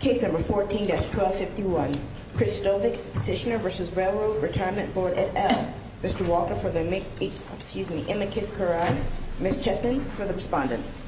Case No. 14-1251, Chris Stovic, Petitioner v. RRRB et al. Mr. Walker for the amicus curiae, Ms. Cheston for the respondents.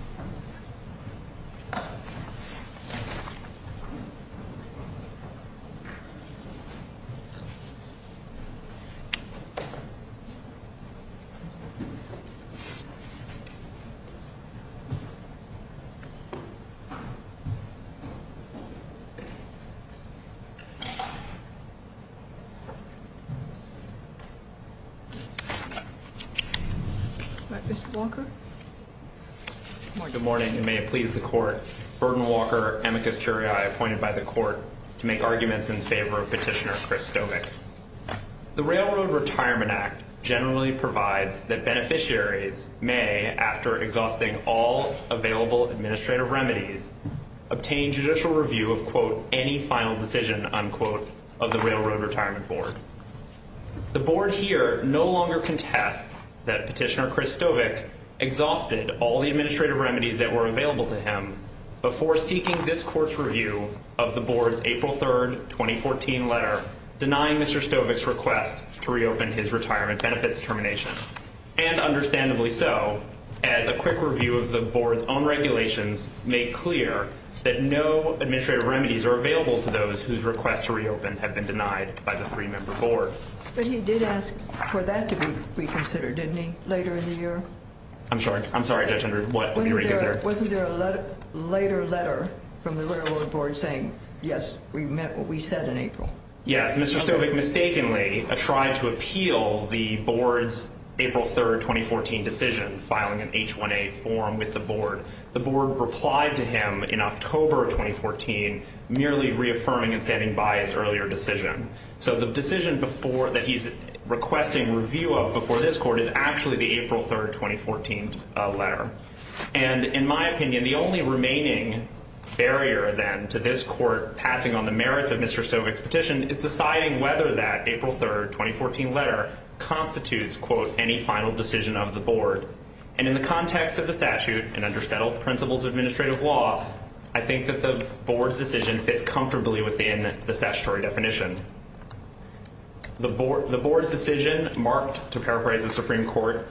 Good morning, and may it please the Court, Burden Walker, amicus curiae appointed by the Court to make arguments in favor of Petitioner Chris Stovic. The Railroad Retirement Act generally provides that beneficiaries may, after exhausting all available administrative remedies, obtain judicial review of, quote, any final decision, unquote, of the Railroad Retirement Board. The Board here no longer contests that Petitioner Chris Stovic exhausted all the administrative remedies that were available to him before seeking this Court's review of the Board's April 3, 2014 letter denying Mr. Stovic's request to reopen his retirement benefits termination, and understandably so, as a quick review of the Board's own regulations made clear that no administrative remedies are available to those whose requests to reopen have been denied by the three-member Board. But he did ask for that to be reconsidered, didn't he, later in the year? I'm sorry. I'm sorry, Judge Henry. What was reconsidered? Wasn't there a later letter from the Railroad Board saying, yes, we meant what we said in April? Yes. As Mr. Stovic mistakenly tried to appeal the Board's April 3, 2014 decision, filing an H1A form with the Board, the Board replied to him in October of 2014, merely reaffirming and standing by his earlier decision. So the decision before that he's requesting review of before this Court is actually the April 3, 2014 letter. And in my opinion, the only remaining barrier, then, to this Court passing on the merits of Mr. Stovic's petition is deciding whether that April 3, 2014 letter constitutes, quote, any final decision of the Board. And in the context of the statute and under settled principles of administrative law, I think that the Board's decision fits comfortably within the statutory definition. The Board's decision marked, to paraphrase the Supreme Court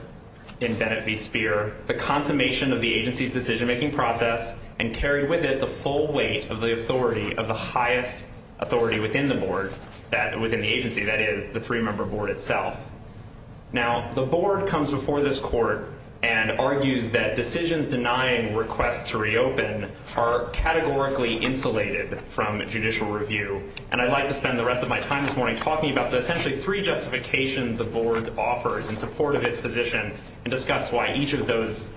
in Bennett v. Speer, the consummation of the agency's decision-making process and carried with it the full weight of the authority of the highest authority within the Board, within the agency, that is, the three-member Board itself. Now, the Board comes before this Court and argues that decisions denying requests to reopen are categorically insulated from judicial review. And I'd like to spend the rest of my time this morning talking about the essentially three justifications the Board offers in support of its position and discuss why each of those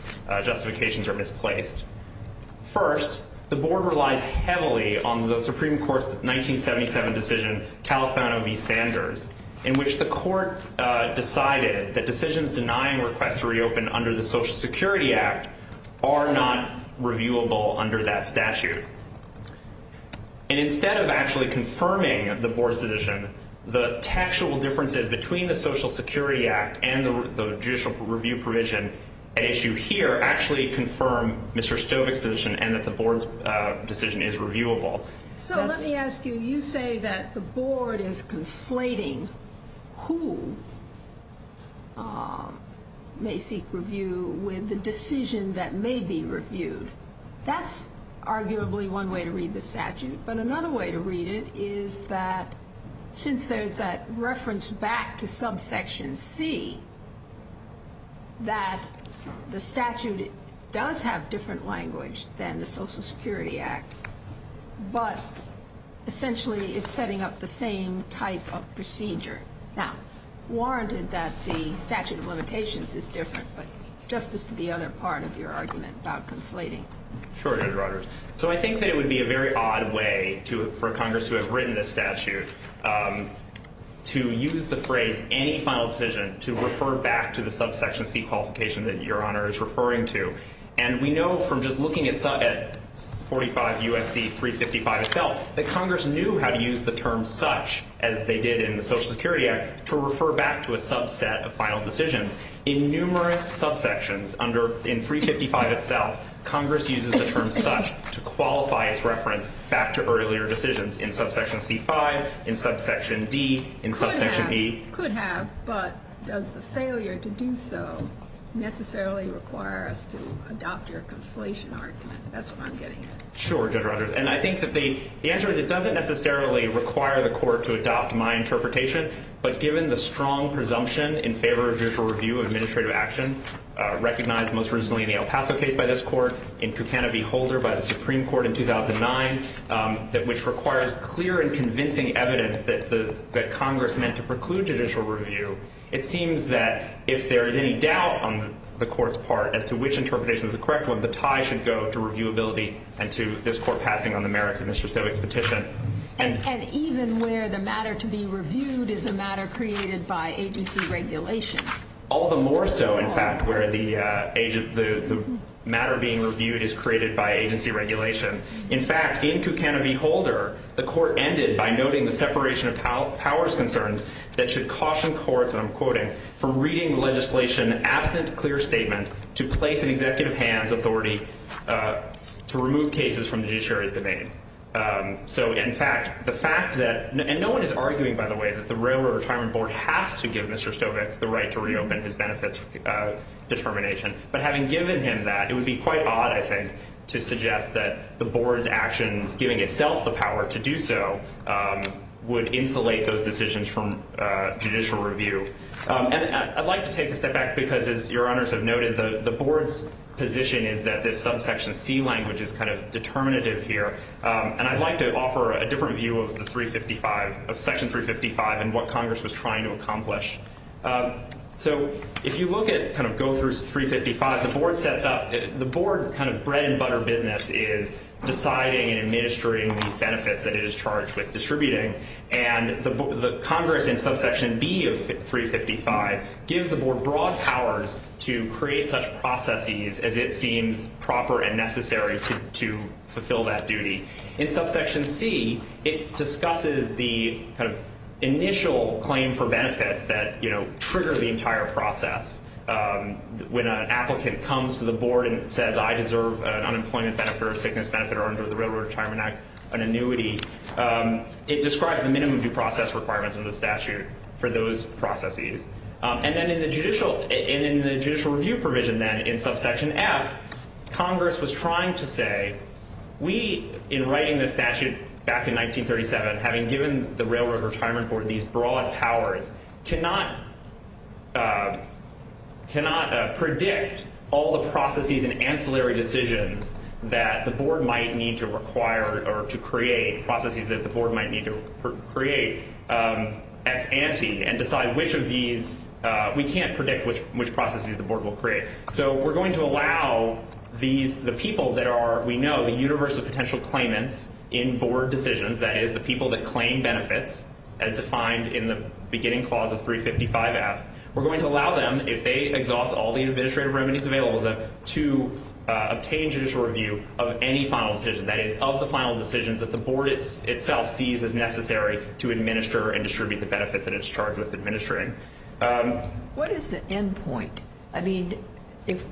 justifications are misplaced. First, the Board relies heavily on the Supreme Court's 1977 decision, Califano v. Sanders, in which the Court decided that decisions denying requests to reopen under the Social Security Act are not reviewable under that statute. And instead of actually confirming the Board's position, the actual differences between the and that the Board's decision is reviewable. So let me ask you, you say that the Board is conflating who may seek review with the decision that may be reviewed. That's arguably one way to read the statute. But another way to read it is that since there's that reference back to subsection C, that the statute does have different language than the Social Security Act, but essentially it's setting up the same type of procedure. Now, warranted that the statute of limitations is different, but just as to the other part of your argument about conflating. Sure, Judge Rodgers. So I think that it would be a very odd way for Congress to have written this statute to use the phrase any final decision to refer back to the subsection C qualification that your Honor is referring to. And we know from just looking at 45 U.S.C. 355 itself that Congress knew how to use the term such as they did in the Social Security Act to refer back to a subset of final decisions. In numerous subsections under, in 355 itself, Congress uses the term such to qualify its in subsection D, in subsection E. Could have, but does the failure to do so necessarily require us to adopt your conflation argument? That's what I'm getting at. Sure, Judge Rodgers. And I think that the answer is it doesn't necessarily require the court to adopt my interpretation, but given the strong presumption in favor of judicial review of administrative action recognized most recently in the El Paso case by this court, in Cucano v. Holder by the Supreme Court in 2009, which requires clear and convincing evidence that Congress meant to preclude judicial review, it seems that if there is any doubt on the court's part as to which interpretation is the correct one, the tie should go to reviewability and to this court passing on the merits of Mr. Stoeck's petition. And even where the matter to be reviewed is a matter created by agency regulation? All the more so, in fact, where the matter being reviewed is created by agency regulation. In fact, in Cucano v. Holder, the court ended by noting the separation of powers concerns that should caution courts, and I'm quoting, for reading legislation absent clear statement to place in executive hands authority to remove cases from the judiciary's domain. So in fact, the fact that, and no one is arguing, by the way, that the Railroad Retirement Board has to give Mr. Stoeck the right to reopen his benefits determination, but having given him that, it would be quite odd, I think, to suggest that the board's actions, giving itself the power to do so, would insulate those decisions from judicial review. And I'd like to take a step back, because as your honors have noted, the board's position is that this subsection C language is kind of determinative here, and I'd like to offer a different view of the 355, of section 355, and what Congress was trying to accomplish. So if you look at, kind of go through 355, the board sets up, the board kind of bread and butter business is deciding and administering the benefits that it is charged with distributing, and the Congress in subsection B of 355 gives the board broad powers to create such processes as it seems proper and necessary to fulfill that duty. In subsection C, it discusses the kind of initial claim for benefits that trigger the entire process. When an applicant comes to the board and says, I deserve an unemployment benefit or a sickness benefit or under the Railroad Retirement Act an annuity, it describes the minimum due process requirements under the statute for those processes. And then in the judicial review provision, then, in subsection F, Congress was trying to say, we, in writing the statute back in 1937, having given the Railroad Retirement Board these broad powers, cannot predict all the processes and ancillary decisions that the board might need to require or to create, processes that the board might need to create as ante, and decide which of these, we can't predict which processes the board will create. So we're going to allow the people that are, we know, the universe of potential claimants in board decisions, that is, the people that claim benefits, as defined in the beginning clause of 355F, we're going to allow them, if they exhaust all the administrative remedies available to them, to obtain judicial review of any final decision, that is, of the final decisions that the board itself sees as necessary to administer and distribute the benefits that it's charged with administering. What is the end point? I mean, if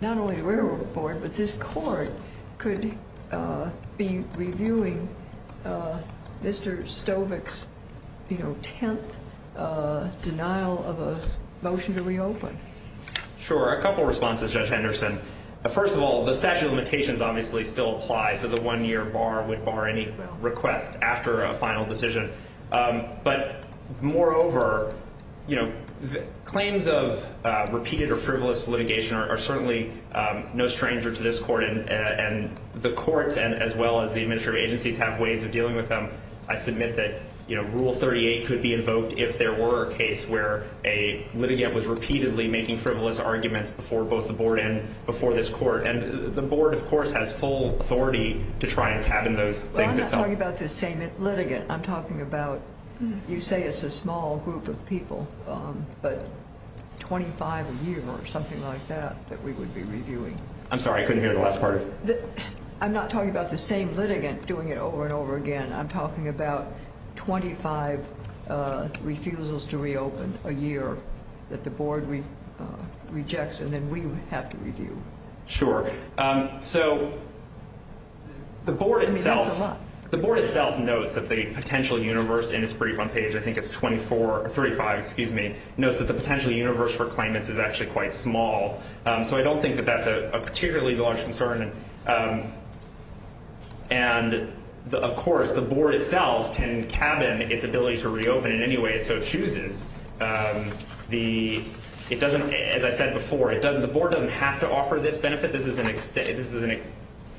not only the Railroad Board, but this court could be reviewing Mr. Stovek's, you know, 10th denial of a motion to reopen? Sure. A couple responses, Judge Henderson. First of all, the statute of limitations obviously still applies, so the one-year bar would bar any requests after a final decision. But moreover, you know, claims of repeated or frivolous litigation are certainly no stranger to this court, and the courts, as well as the administrative agencies, have ways of dealing with them. I submit that, you know, Rule 38 could be invoked if there were a case where a litigant was repeatedly making frivolous arguments before both the board and before this court. And the board, of course, has full authority to try and tab in those things itself. Well, I'm not talking about the same litigant. I'm talking about, you say it's a small group of people, but 25 a year or something like that, that we would be reviewing. I'm sorry, I couldn't hear the last part of it. I'm not talking about the same litigant doing it over and over again. I'm talking about 25 refusals to reopen a year that the board rejects and then we have to review. Sure. So the board itself notes that the potential universe in its brief on page, I think it's 24 or 35, excuse me, notes that the potential universe for claimants is actually quite small. So I don't think that that's a particularly large concern. And of course, the board itself can tab in its ability to reopen in any way it so chooses. It doesn't, as I said before, the board doesn't have to offer this benefit. This is an,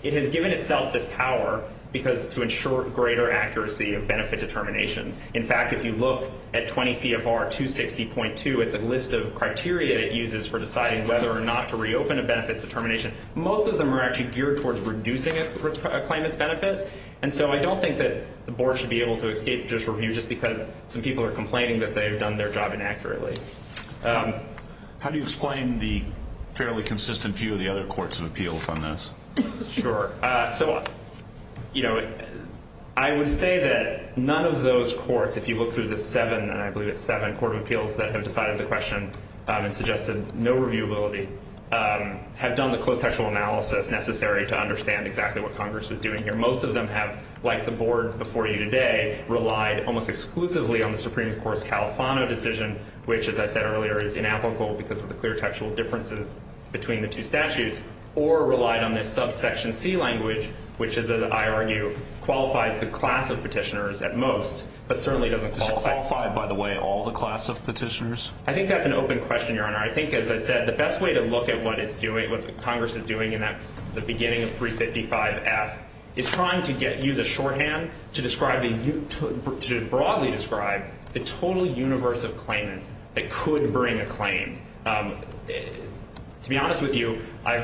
it has given itself this power because to ensure greater accuracy of benefit determinations. In fact, if you look at 20 CFR 260.2 at the list of criteria it uses for deciding whether or not to reopen a benefits determination, most of them are actually geared towards reducing a claimant's benefit. And so I don't think that the board should be able to escape this review just because some people are complaining that they've done their job inaccurately. How do you explain the fairly consistent view of the other courts of appeals on this? Sure. So, you know, I would say that none of those courts, if you look through the seven, and I believe it's seven court of appeals that have decided the question and suggested no reviewability have done the close textual analysis necessary to understand exactly what Congress was doing here. Most of them have, like the board before you today, relied almost exclusively on the Supreme Court language. As I said earlier, it is inapplicable because of the clear textual differences between the two statutes or relied on this subsection C language, which is, as I argue, qualifies the class of petitioners at most, but certainly doesn't qualify by the way, all the class of petitioners. I think that's an open question, Your Honor. I think, as I said, the best way to look at what it's doing, what Congress is doing in that the beginning of 355 F is trying to get, use a shorthand to describe the, to broadly describe the total universe of claimants that could bring a claim. To be honest with you, I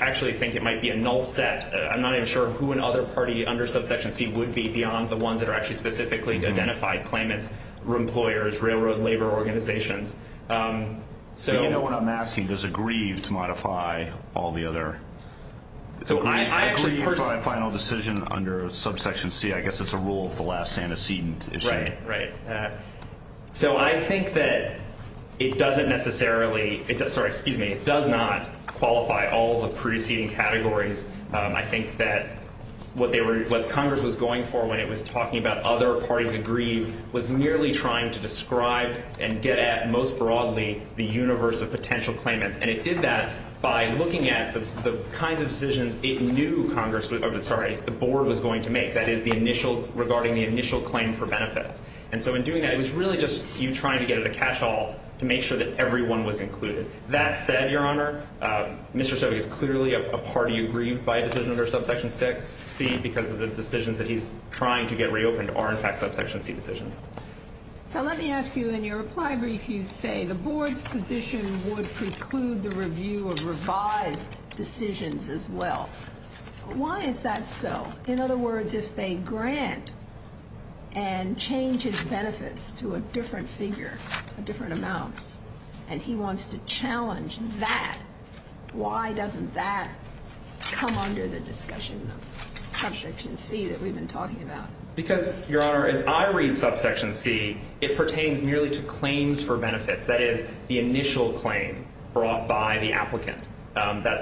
actually think it might be a null set. I'm not even sure who in other party under subsection C would be beyond the ones that are actually specifically identified claimants, employers, railroad, labor organizations. So you know what I'm asking? Does it grieve to modify all the other? So I agree with my final decision under subsection C. I guess it's a rule of the last antecedent issue. Right, right. So I think that it doesn't necessarily, sorry, excuse me, it does not qualify all the preceding categories. I think that what they were, what Congress was going for when it was talking about other parties agree was merely trying to describe and get at most broadly the universe of potential claimants. And it did that by looking at the kinds of decisions it knew Congress, sorry, the board was going to make. That is the initial regarding the initial claim for benefits. And so in doing that, it was really just you trying to get at a cash haul to make sure that everyone was included. That said, your honor, Mr. Sobeck is clearly a party who grieved by a decision under subsection six C because of the decisions that he's trying to get reopened are in fact subsection C decisions. So let me ask you in your reply brief, you say the board's position would preclude the review of revised decisions as well. Why is that so? In other words, if they grant and change his benefits to a different figure, a different amount, and he wants to challenge that, why doesn't that come under the discussion of subsection C that we've been talking about? Because your honor, as I read subsection C, it pertains merely to claims for benefits. That's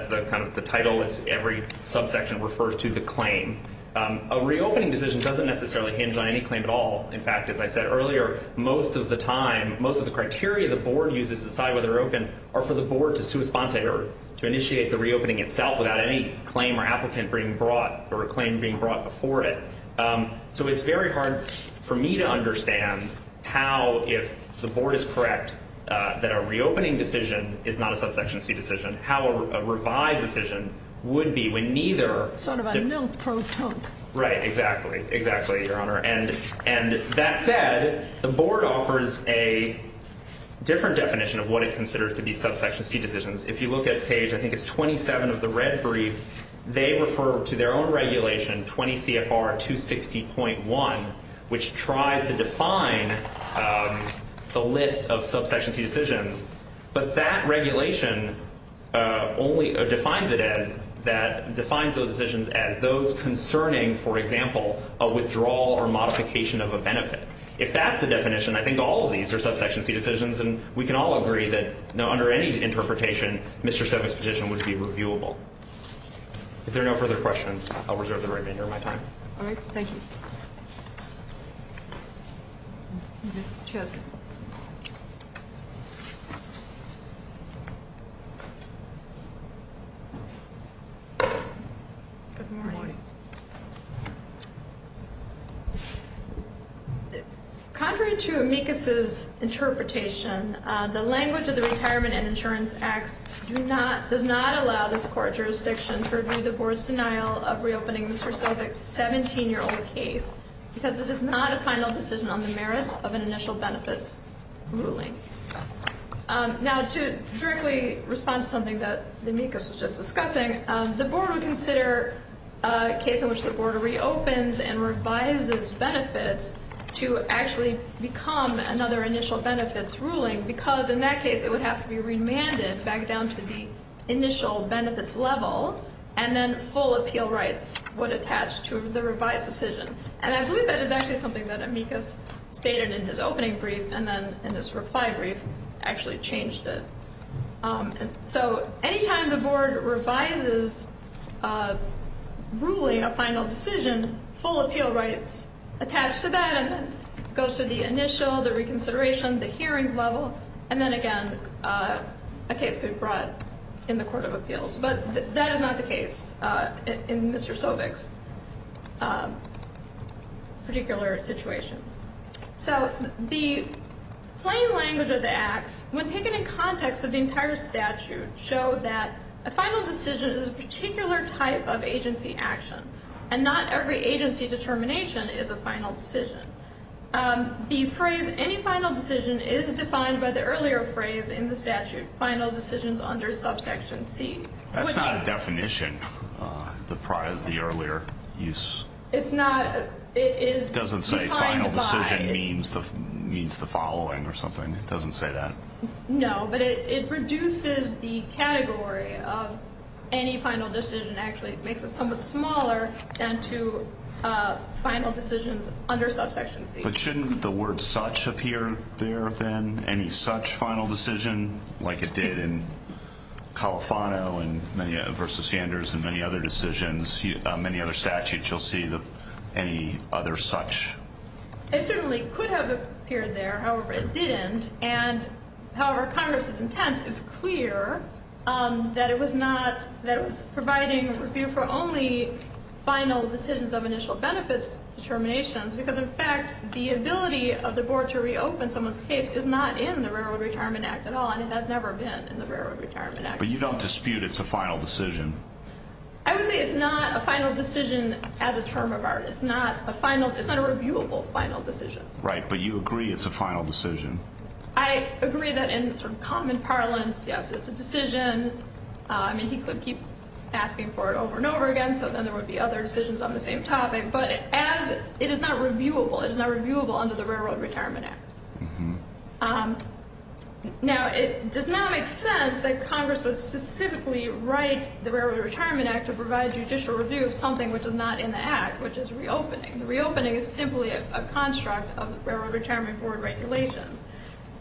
the kind of the title is every subsection refers to the claim. A reopening decision doesn't necessarily hinge on any claim at all. In fact, as I said earlier, most of the time, most of the criteria the board uses to decide whether they're open or for the board to sue a sponsor to initiate the reopening itself without any claim or applicant being brought or a claim being brought before it. So it's very hard for me to understand how, if the board is correct that a reopening decision is not a subsection C decision, how a revised decision would be when neither. Sort of a milk pro tonic. Right, exactly, exactly, your honor. And that said, the board offers a different definition of what it considers to be subsection C decisions. If you look at page, I think it's 27 of the red brief, they refer to their own regulation 20 CFR 260.1, which tries to define the list of subsection C decisions. But that regulation only defines it as that defines those decisions as those concerning, for example, a withdrawal or modification of a benefit. If that's the definition, I think all of these are subsection C decisions. And we can all agree that no, under any interpretation, Mr. Sevin's position would be reviewable. If there are no further questions, I'll reserve the right to hear my time. All right. Thank you. Ms. Chesley. Good morning. Contrary to amicus's interpretation, the language of the Retirement and Insurance Acts do not, does not allow this court jurisdiction to review the board's denial of reopening Mr. It is not a final decision on the merits of an initial benefits ruling. Now, to directly respond to something that the amicus was just discussing, the board would consider a case in which the board reopens and revises benefits to actually become another initial benefits ruling, because in that case, it would have to be remanded back down to the initial benefits level, and then full appeal rights would attach to the revised decision. And I believe that is actually something that amicus stated in his opening brief, and then in this reply brief, actually changed it. So, anytime the board revises a ruling, a final decision, full appeal rights attach to that, and then it goes to the initial, the reconsideration, the hearings level, and then again, a case could be brought in the Court of Appeals. But that is not the case in Mr. Sovik's particular situation. So, the plain language of the acts, when taken in context of the entire statute, show that a final decision is a particular type of agency action, and not every agency determination is a final decision. The phrase, any final decision, is defined by the earlier phrase in the statute, final decisions under subsection C. That's not a definition, the prior, the earlier use. It's not, it is defined by... It doesn't say final decision means the following or something, it doesn't say that. No, but it reduces the category of any final decision, actually, it makes it somewhat smaller than to final decisions under subsection C. But shouldn't the word such appear there, then, any such final decision, like it did in Califano versus Sanders and many other decisions, many other statutes, you'll see the, any other such? It certainly could have appeared there, however it didn't, and however Congress's intent is clear, that it was not, that it was providing a review for only final decisions of initial benefits determinations, because in fact, the ability of the board to reopen someone's case is not in the Railroad Retirement Act at all, and it has never been in the Railroad Retirement Act. But you don't dispute it's a final decision? I would say it's not a final decision as a term of art. It's not a final, it's not a reviewable final decision. Right, but you agree it's a final decision? I agree that in sort of common parlance, yes, it's a decision. I mean, he could keep asking for it over and over again, so then there would be other decisions on the same topic, but as it is not reviewable, it is not reviewable under the Railroad Retirement Act. Now, it does not make sense that Congress would specifically write the Railroad Retirement Act to provide judicial review of something which is not in the Act, which is reopening. The reopening is simply a construct of the Railroad Retirement Board regulations,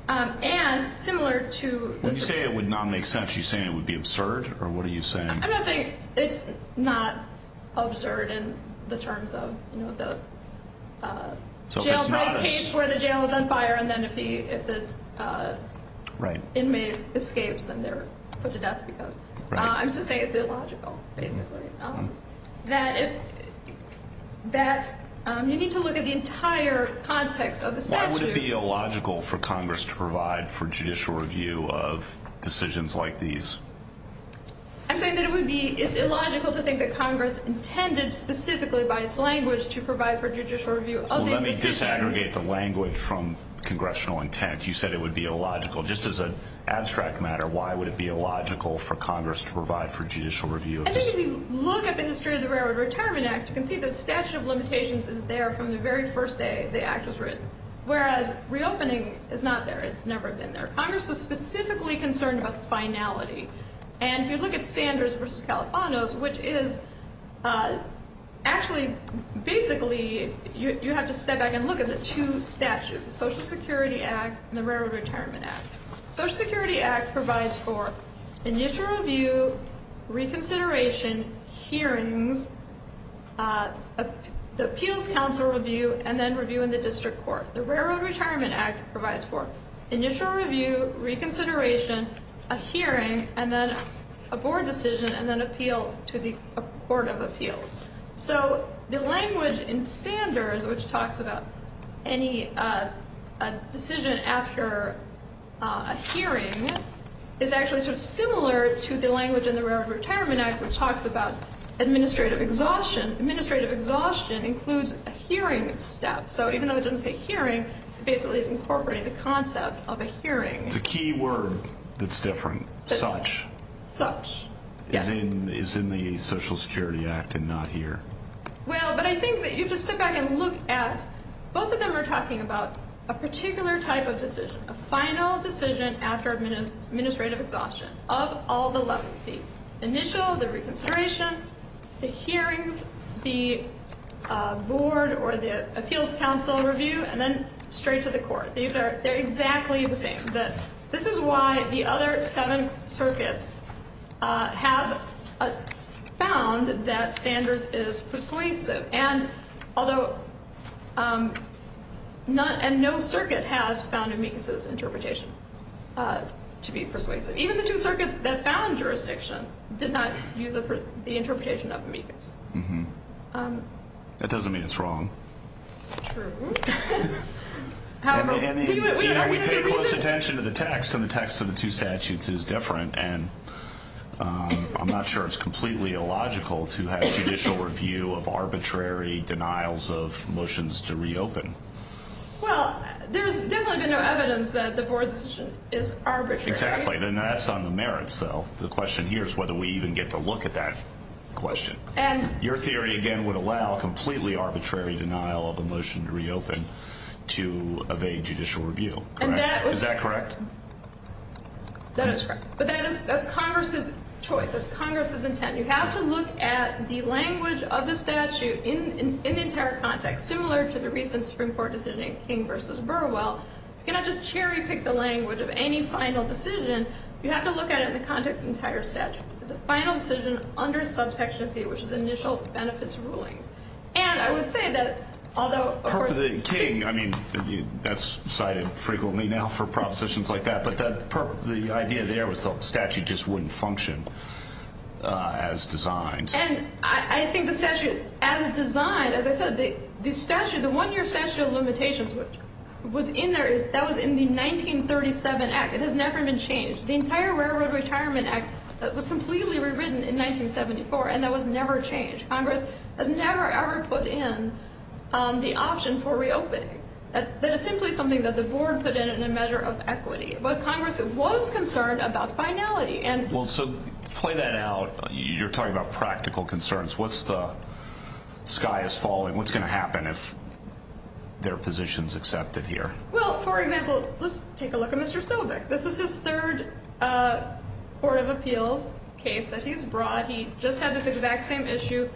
and similar to... When you say it would not make sense, you're saying it would be absurd, or what are you saying? I'm not saying it's not absurd in the terms of the jail break case where the jail is on fire, and then if the inmate escapes, then they're put to death because... I'm just saying it's illogical, basically. That you need to look at the entire context of the statute... Why would it be illogical for Congress to provide for judicial review of decisions like these? I'm saying that it would be... It's illogical to think that Congress intended specifically by its language to provide for judicial review of these decisions. Well, let me disaggregate the language from congressional intent. You said it would be illogical. Just as an abstract matter, why would it be illogical for Congress to provide for judicial review of decisions? I think if you look at the history of the Railroad Retirement Act, you can see the statute of limitations is there from the very first day the Act was written, whereas reopening is not there. It's never been there. Congress was specifically concerned about finality, and if you look at Sanders versus Califano's, which is... Actually, basically, you have to step back and look at the two statutes, the Social Security Act and the Railroad Retirement Act. Social Security Act provides for initial review, reconsideration, hearings, the appeals council review, and then review in the district court. The Railroad Retirement Act provides for initial review, reconsideration, a hearing, and then a board decision, and then appeal to the court of appeals. So the language in Sanders, which talks about any decision after a hearing, is actually sort of similar to the language in the Railroad Retirement Act, which talks about administrative exhaustion. Administrative exhaustion includes a hearing step. So even though it doesn't say hearing, it basically is incorporating the concept of a hearing. It's a key word that's different. Such. Such. Yes. Is in the Social Security Act and not here. Well, but I think that you have to step back and look at... Both of them are talking about a particular type of decision, a final decision after administrative exhaustion of all the levels, the initial, the reconsideration, the hearings, the board or the appeals council review, and then straight to the court. These are, they're exactly the same. This is why the other seven circuits have found that Sanders is persuasive. And although, and no circuit has found Amicus's interpretation to be persuasive. Even the two circuits that found jurisdiction did not use the interpretation of Amicus. That doesn't mean it's wrong. True. However, we pay close attention to the text and the text of the two statutes is different and I'm not sure it's completely illogical to have judicial review of arbitrary denials of motions to reopen. Well, there's definitely been no evidence that the board's decision is arbitrary. Exactly. And that's on the merits though. The question here is whether we even get to look at that question. Your theory, again, would allow completely arbitrary denial of a motion to reopen to evade judicial review, correct? Is that correct? That is correct. But that is, that's Congress's choice. That's Congress's intent. You have to look at the language of the statute in the entire context, similar to the recent Supreme Court decision in King v. Burwell. You cannot just cherry pick the language of any final decision. You have to look at it in the context of the entire statute. It's a final decision under subsection C, which is initial benefits rulings. And I would say that although, of course, King, I mean, that's cited frequently now for propositions like that, but the idea there was the statute just wouldn't function as designed. And I think the statute, as designed, as I said, the statute, the one-year statute of limitations was in there, that was in the 1937 Act. It has never been changed. The entire Railroad Retirement Act was completely rewritten in 1974, and that was never changed. Congress has never, ever put in the option for reopening. That is simply something that the board put in in a measure of equity. But Congress was concerned about finality. Well, so play that out. You're talking about practical concerns. What's the sky is falling? What's going to happen if their position is accepted here? Well, for example, let's take a look at Mr. Stoback. This is his third Court of Appeals case that he's brought. He just had this exact same issue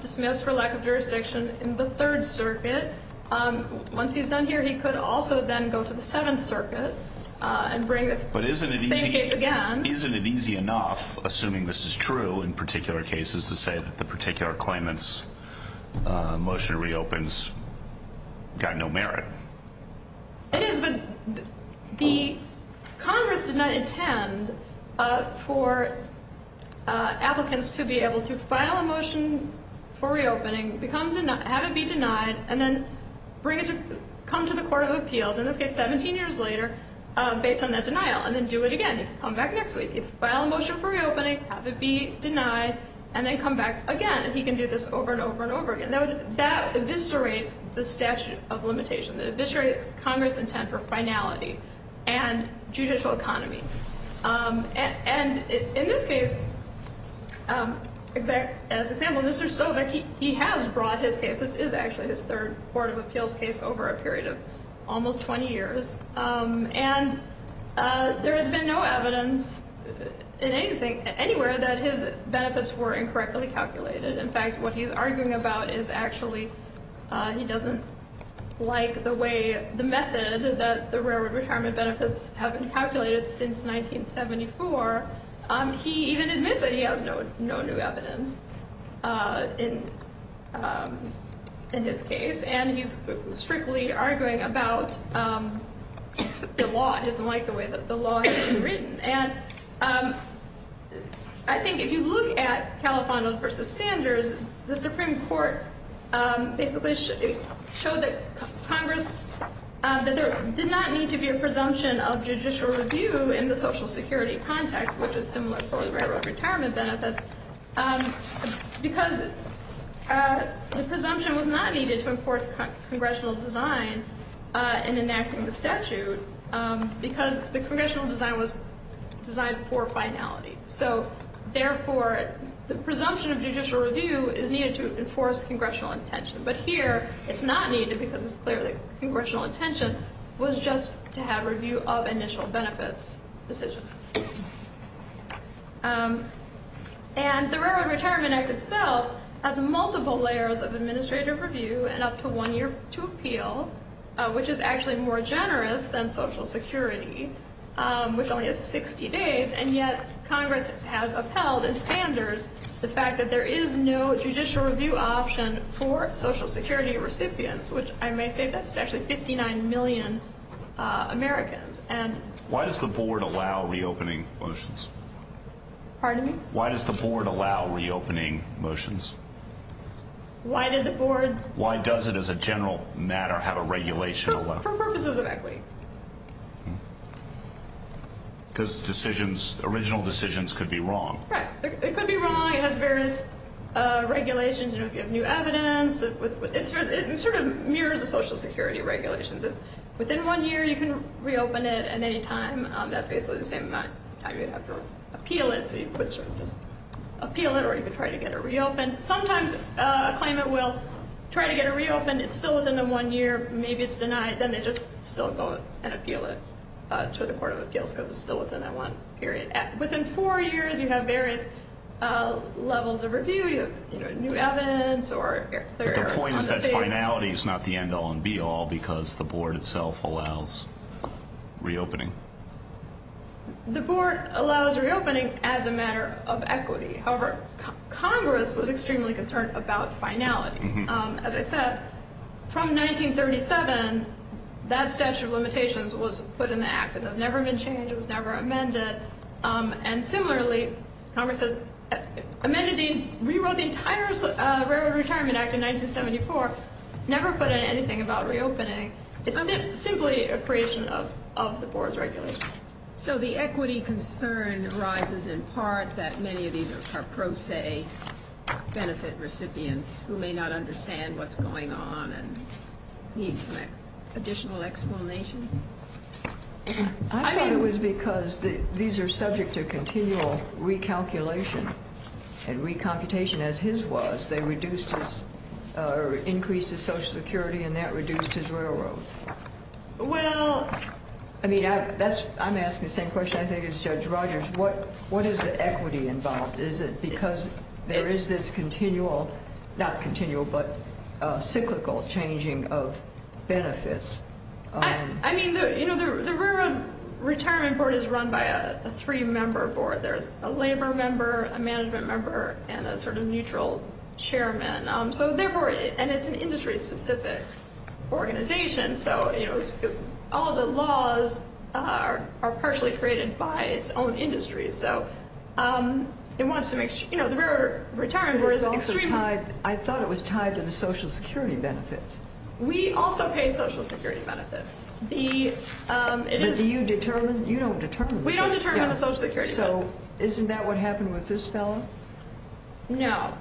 dismissed for lack of jurisdiction in the Third Circuit. Once he's done here, he could also then go to the Seventh Circuit and bring this same case again. But isn't it easy enough, assuming this is true in particular cases, to say that the particular claimant's motion reopens got no merit? It is, but Congress did not intend for applicants to be able to file a motion for reopening, have it be denied, and then come to the Court of Appeals, in this case 17 years later, based on that denial, and then do it again, come back next week, file a motion for reopening, have it be denied, and then come back again. He can do this over and over and over again. That eviscerates the statute of limitation. It eviscerates Congress' intent for finality and judicial economy. And in this case, as an example, Mr. Stoback, he has brought his case. This is actually his third Court of Appeals case over a period of almost 20 years. And there has been no evidence anywhere that his benefits were incorrectly calculated. In fact, what he's arguing about is actually he doesn't like the way the method that the railroad retirement benefits have been calculated since 1974. He even admits that he has no new evidence in his case. And he's strictly arguing about the law. He doesn't like the way that the law has been written. And I think if you look at Califano versus Sanders, the Supreme Court basically showed that there did not need to be a presumption of judicial review in the Social Security context, which is similar for the railroad retirement benefits, because the presumption was not needed to enforce congressional design in enacting the statute because the congressional design was designed for finality. So, therefore, the presumption of judicial review is needed to enforce congressional intention. But here it's not needed because it's clear that congressional intention was just to have review of initial benefits decisions. And the Railroad Retirement Act itself has multiple layers of administrative review and up to one year to appeal, which is actually more generous than Social Security, which only has 60 days. And yet Congress has upheld in Sanders the fact that there is no judicial review option for Social Security recipients, which I may say that's actually 59 million Americans. Why does the board allow reopening motions? Pardon me? Why does the board allow reopening motions? Why did the board? Why does it, as a general matter, have a regulation? For purposes of equity. Because decisions, original decisions, could be wrong. Right. It could be wrong. It has various regulations. You know, if you have new evidence. It sort of mirrors the Social Security regulations. If within one year you can reopen it at any time, that's basically the same amount of time you'd have to appeal it. So you'd have to appeal it or you could try to get it reopened. And sometimes a claimant will try to get it reopened. It's still within the one year. Maybe it's denied. Then they just still go and appeal it to the Court of Appeals because it's still within that one period. Within four years, you have various levels of review. You have new evidence or clear errors on the case. But the point is that finality is not the end all and be all because the board itself allows reopening. The board allows reopening as a matter of equity. However, Congress was extremely concerned about finality. As I said, from 1937, that statute of limitations was put in the act. It has never been changed. It was never amended. And similarly, Congress has rewrote the entire Railroad Retirement Act in 1974, never put in anything about reopening. It's simply a creation of the board's regulations. So the equity concern arises in part that many of these are pro se benefit recipients who may not understand what's going on and need some additional explanation? I thought it was because these are subject to continual recalculation and recomputation as his was. They reduced or increased his Social Security and that reduced his railroad. Well, I mean, that's I'm asking the same question. I think it's Judge Rogers. What what is the equity involved? Is it because there is this continual, not continual, but cyclical changing of benefits? I mean, you know, the railroad retirement board is run by a three member board. There's a labor member, a management member and a sort of neutral chairman. So therefore, and it's an industry specific organization. So, you know, all the laws are partially created by its own industry. So it wants to make sure, you know, the railroad retirement board is also tied. I thought it was tied to the Social Security benefits. We also pay Social Security benefits. The you determine you don't determine we don't determine the Social Security. So isn't that what happened with this fellow? No,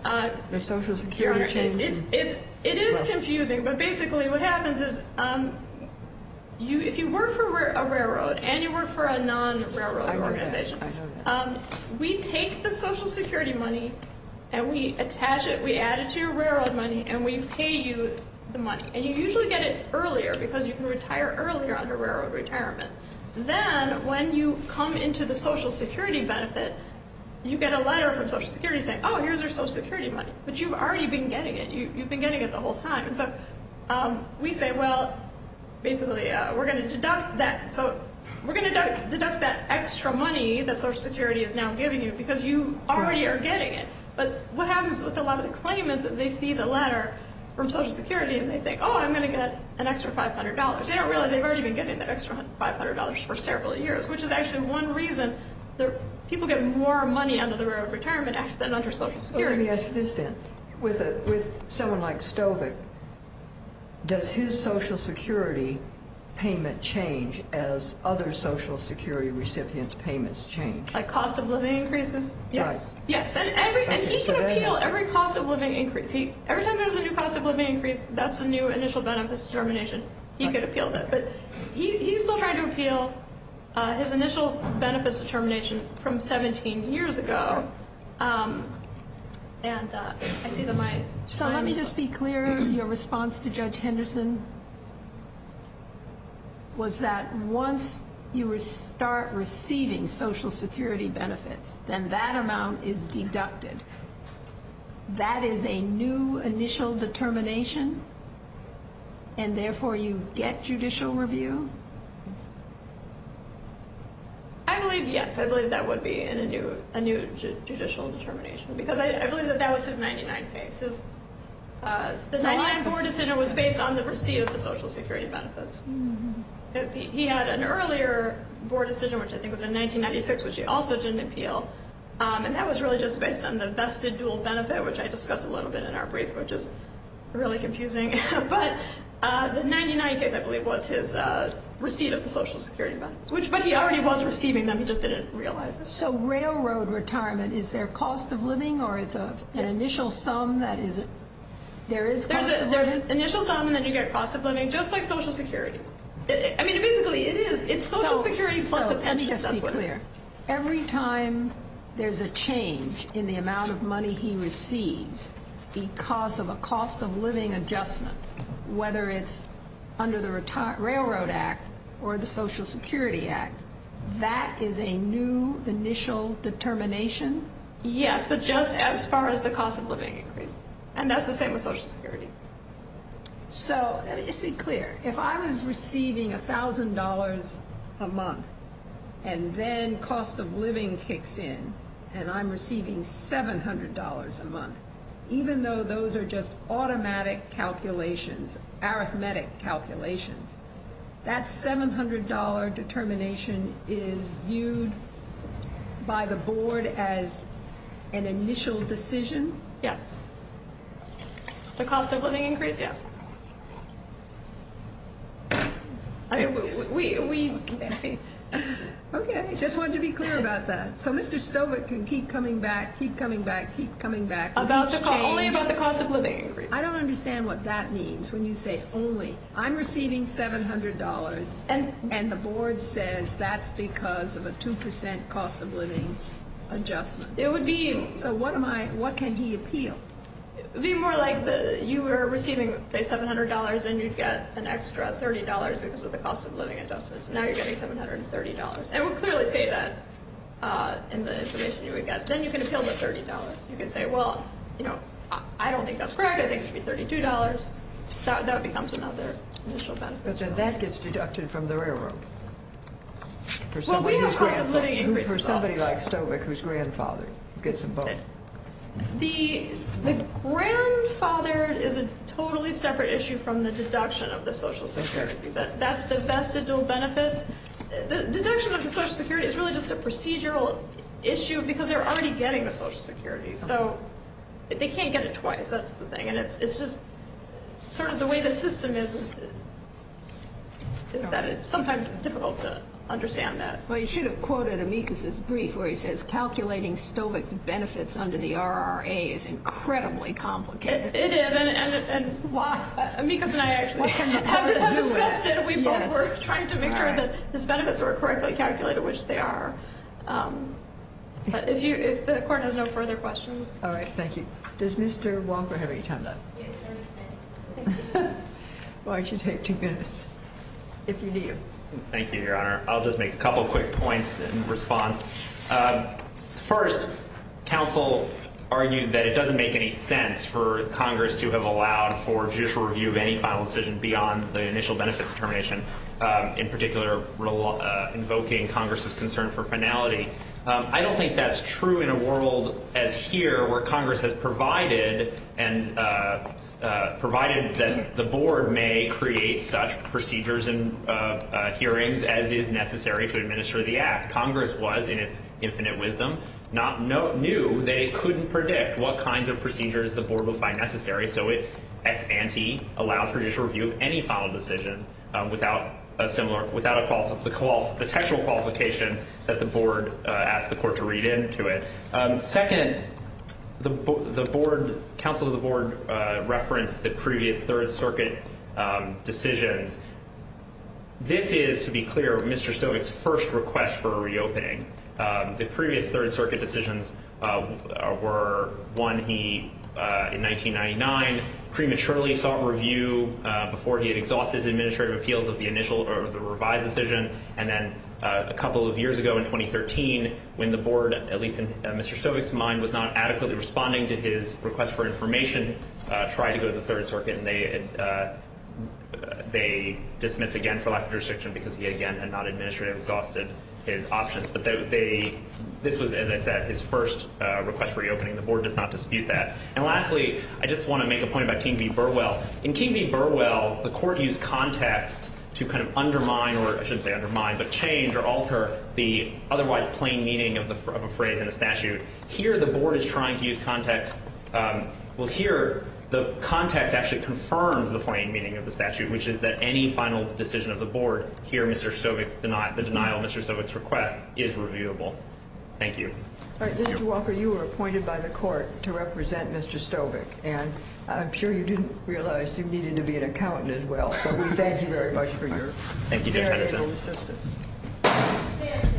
the Social Security. It's it's it is confusing. But basically what happens is you if you work for a railroad and you work for a non railroad organization, we take the Social Security money and we attach it. We add it to your railroad money and we pay you the money. And you usually get it earlier because you can retire earlier under railroad retirement. Then when you come into the Social Security benefit, you get a letter from Social Security saying, oh, here's our Social Security money. But you've already been getting it. You've been getting it the whole time. And so we say, well, basically, we're going to deduct that. So we're going to deduct that extra money that Social Security is now giving you because you already are getting it. But what happens with a lot of the claimants is they see the letter from Social Security and they think, oh, I'm going to get an extra five hundred dollars. They don't realize they've already been getting that extra five hundred dollars for several years, which is actually one reason that people get more money under the Railroad Retirement Act than under Social Security. Let me ask you this then. With someone like Stovek, does his Social Security payment change as other Social Security recipients' payments change? Like cost of living increases? Yes. Yes. And he can appeal every cost of living increase. Every time there's a new cost of living increase, that's a new initial benefit determination. He could appeal that. But he's still trying to appeal his initial benefits determination from 17 years ago. So let me just be clear. Your response to Judge Henderson was that once you start receiving Social Security benefits, then that amount is deducted. That is a new initial determination? And therefore you get judicial review? I believe yes. I believe that would be a new judicial determination. Because I believe that that was his 99 cases. The 99 board decision was based on the receipt of the Social Security benefits. He had an earlier board decision, which I think was in 1996, which he also didn't appeal. And that was really just based on the vested dual benefit, which I discussed a little bit in our brief, which is really confusing. But the 99 case, I believe, was his receipt of the Social Security benefits. But he already was receiving them. He just didn't realize it. So railroad retirement, is there cost of living? Or it's an initial sum that there is cost of living? There's an initial sum, and then you get cost of living, just like Social Security. I mean, basically it is. It's Social Security plus a pension supplement. Just to be clear, every time there's a change in the amount of money he receives because of a cost of living adjustment, whether it's under the Railroad Act or the Social Security Act, that is a new initial determination? Yes, but just as far as the cost of living increase. And that's the same with Social Security. So just to be clear, if I was receiving $1,000 a month and then cost of living kicks in and I'm receiving $700 a month, even though those are just automatic calculations, arithmetic calculations, that $700 determination is viewed by the board as an initial decision? Yes. The cost of living increase, yes. Okay, just wanted to be clear about that. So Mr. Stovart can keep coming back, keep coming back, keep coming back. Only about the cost of living increase. I don't understand what that means when you say only. I'm receiving $700, and the board says that's because of a 2% cost of living adjustment. It would be. So what can he appeal? It would be more like you were receiving, say, $700, and you'd get an extra $30 because of the cost of living adjustment. So now you're getting $730. And we'll clearly say that in the information you would get. Then you can appeal the $30. You can say, well, you know, I don't think that's correct. I think it should be $32. That becomes another initial benefit. But then that gets deducted from the railroad. Well, we have cost of living increases. For somebody like Stovart whose grandfather gets them both. The grandfather is a totally separate issue from the deduction of the Social Security. That's the vestigial benefits. The deduction of the Social Security is really just a procedural issue because they're already getting the Social Security. So they can't get it twice. That's the thing. It's just sort of the way the system is that it's sometimes difficult to understand that. Well, you should have quoted Amicus' brief where he says calculating Stovart's benefits under the RRA is incredibly complicated. It is. And Amicus and I actually have discussed it. We both were trying to make sure that his benefits were correctly calculated, which they are. But if the Court has no further questions. All right. Thank you. Does Mr. Walker have any time left? Why don't you take two minutes if you need to. Thank you, Your Honor. I'll just make a couple quick points in response. First, counsel argued that it doesn't make any sense for Congress to have allowed for judicial review of any final decision beyond the initial benefits determination. In particular, invoking Congress's concern for finality. I don't think that's true in a world as here where Congress has provided that the board may create such procedures and hearings as is necessary to administer the act. Congress was, in its infinite wisdom, knew they couldn't predict what kinds of procedures the board would find necessary. So it, ex ante, allows for judicial review of any final decision without the textual qualification that the board asked the court to read into it. Second, the counsel of the board referenced the previous Third Circuit decisions. This is, to be clear, Mr. Stovart's first request for a reopening. The previous Third Circuit decisions were one he, in 1999, prematurely sought review before he had exhausted his administrative appeals of the initial or the revised decision. And then a couple of years ago in 2013, when the board, at least in Mr. Stovart's mind, was not adequately responding to his request for information, tried to go to the Third Circuit and they dismissed again for lack of restriction because he, again, had not administratively exhausted his options. But this was, as I said, his first request for reopening. The board does not dispute that. And lastly, I just want to make a point about King v. Burwell. In King v. Burwell, the court used context to kind of undermine, or I shouldn't say undermine, but change or alter the otherwise plain meaning of a phrase in a statute. Here, the board is trying to use context. Well, here, the context actually confirms the plain meaning of the statute, which is that any final decision of the board, here Mr. Stovart's denial, the denial of Mr. Stovart's request, is reviewable. Thank you. All right. Mr. Walker, you were appointed by the court to represent Mr. Stovart. And I'm sure you didn't realize you needed to be an accountant as well. Thank you, Judge Henderson.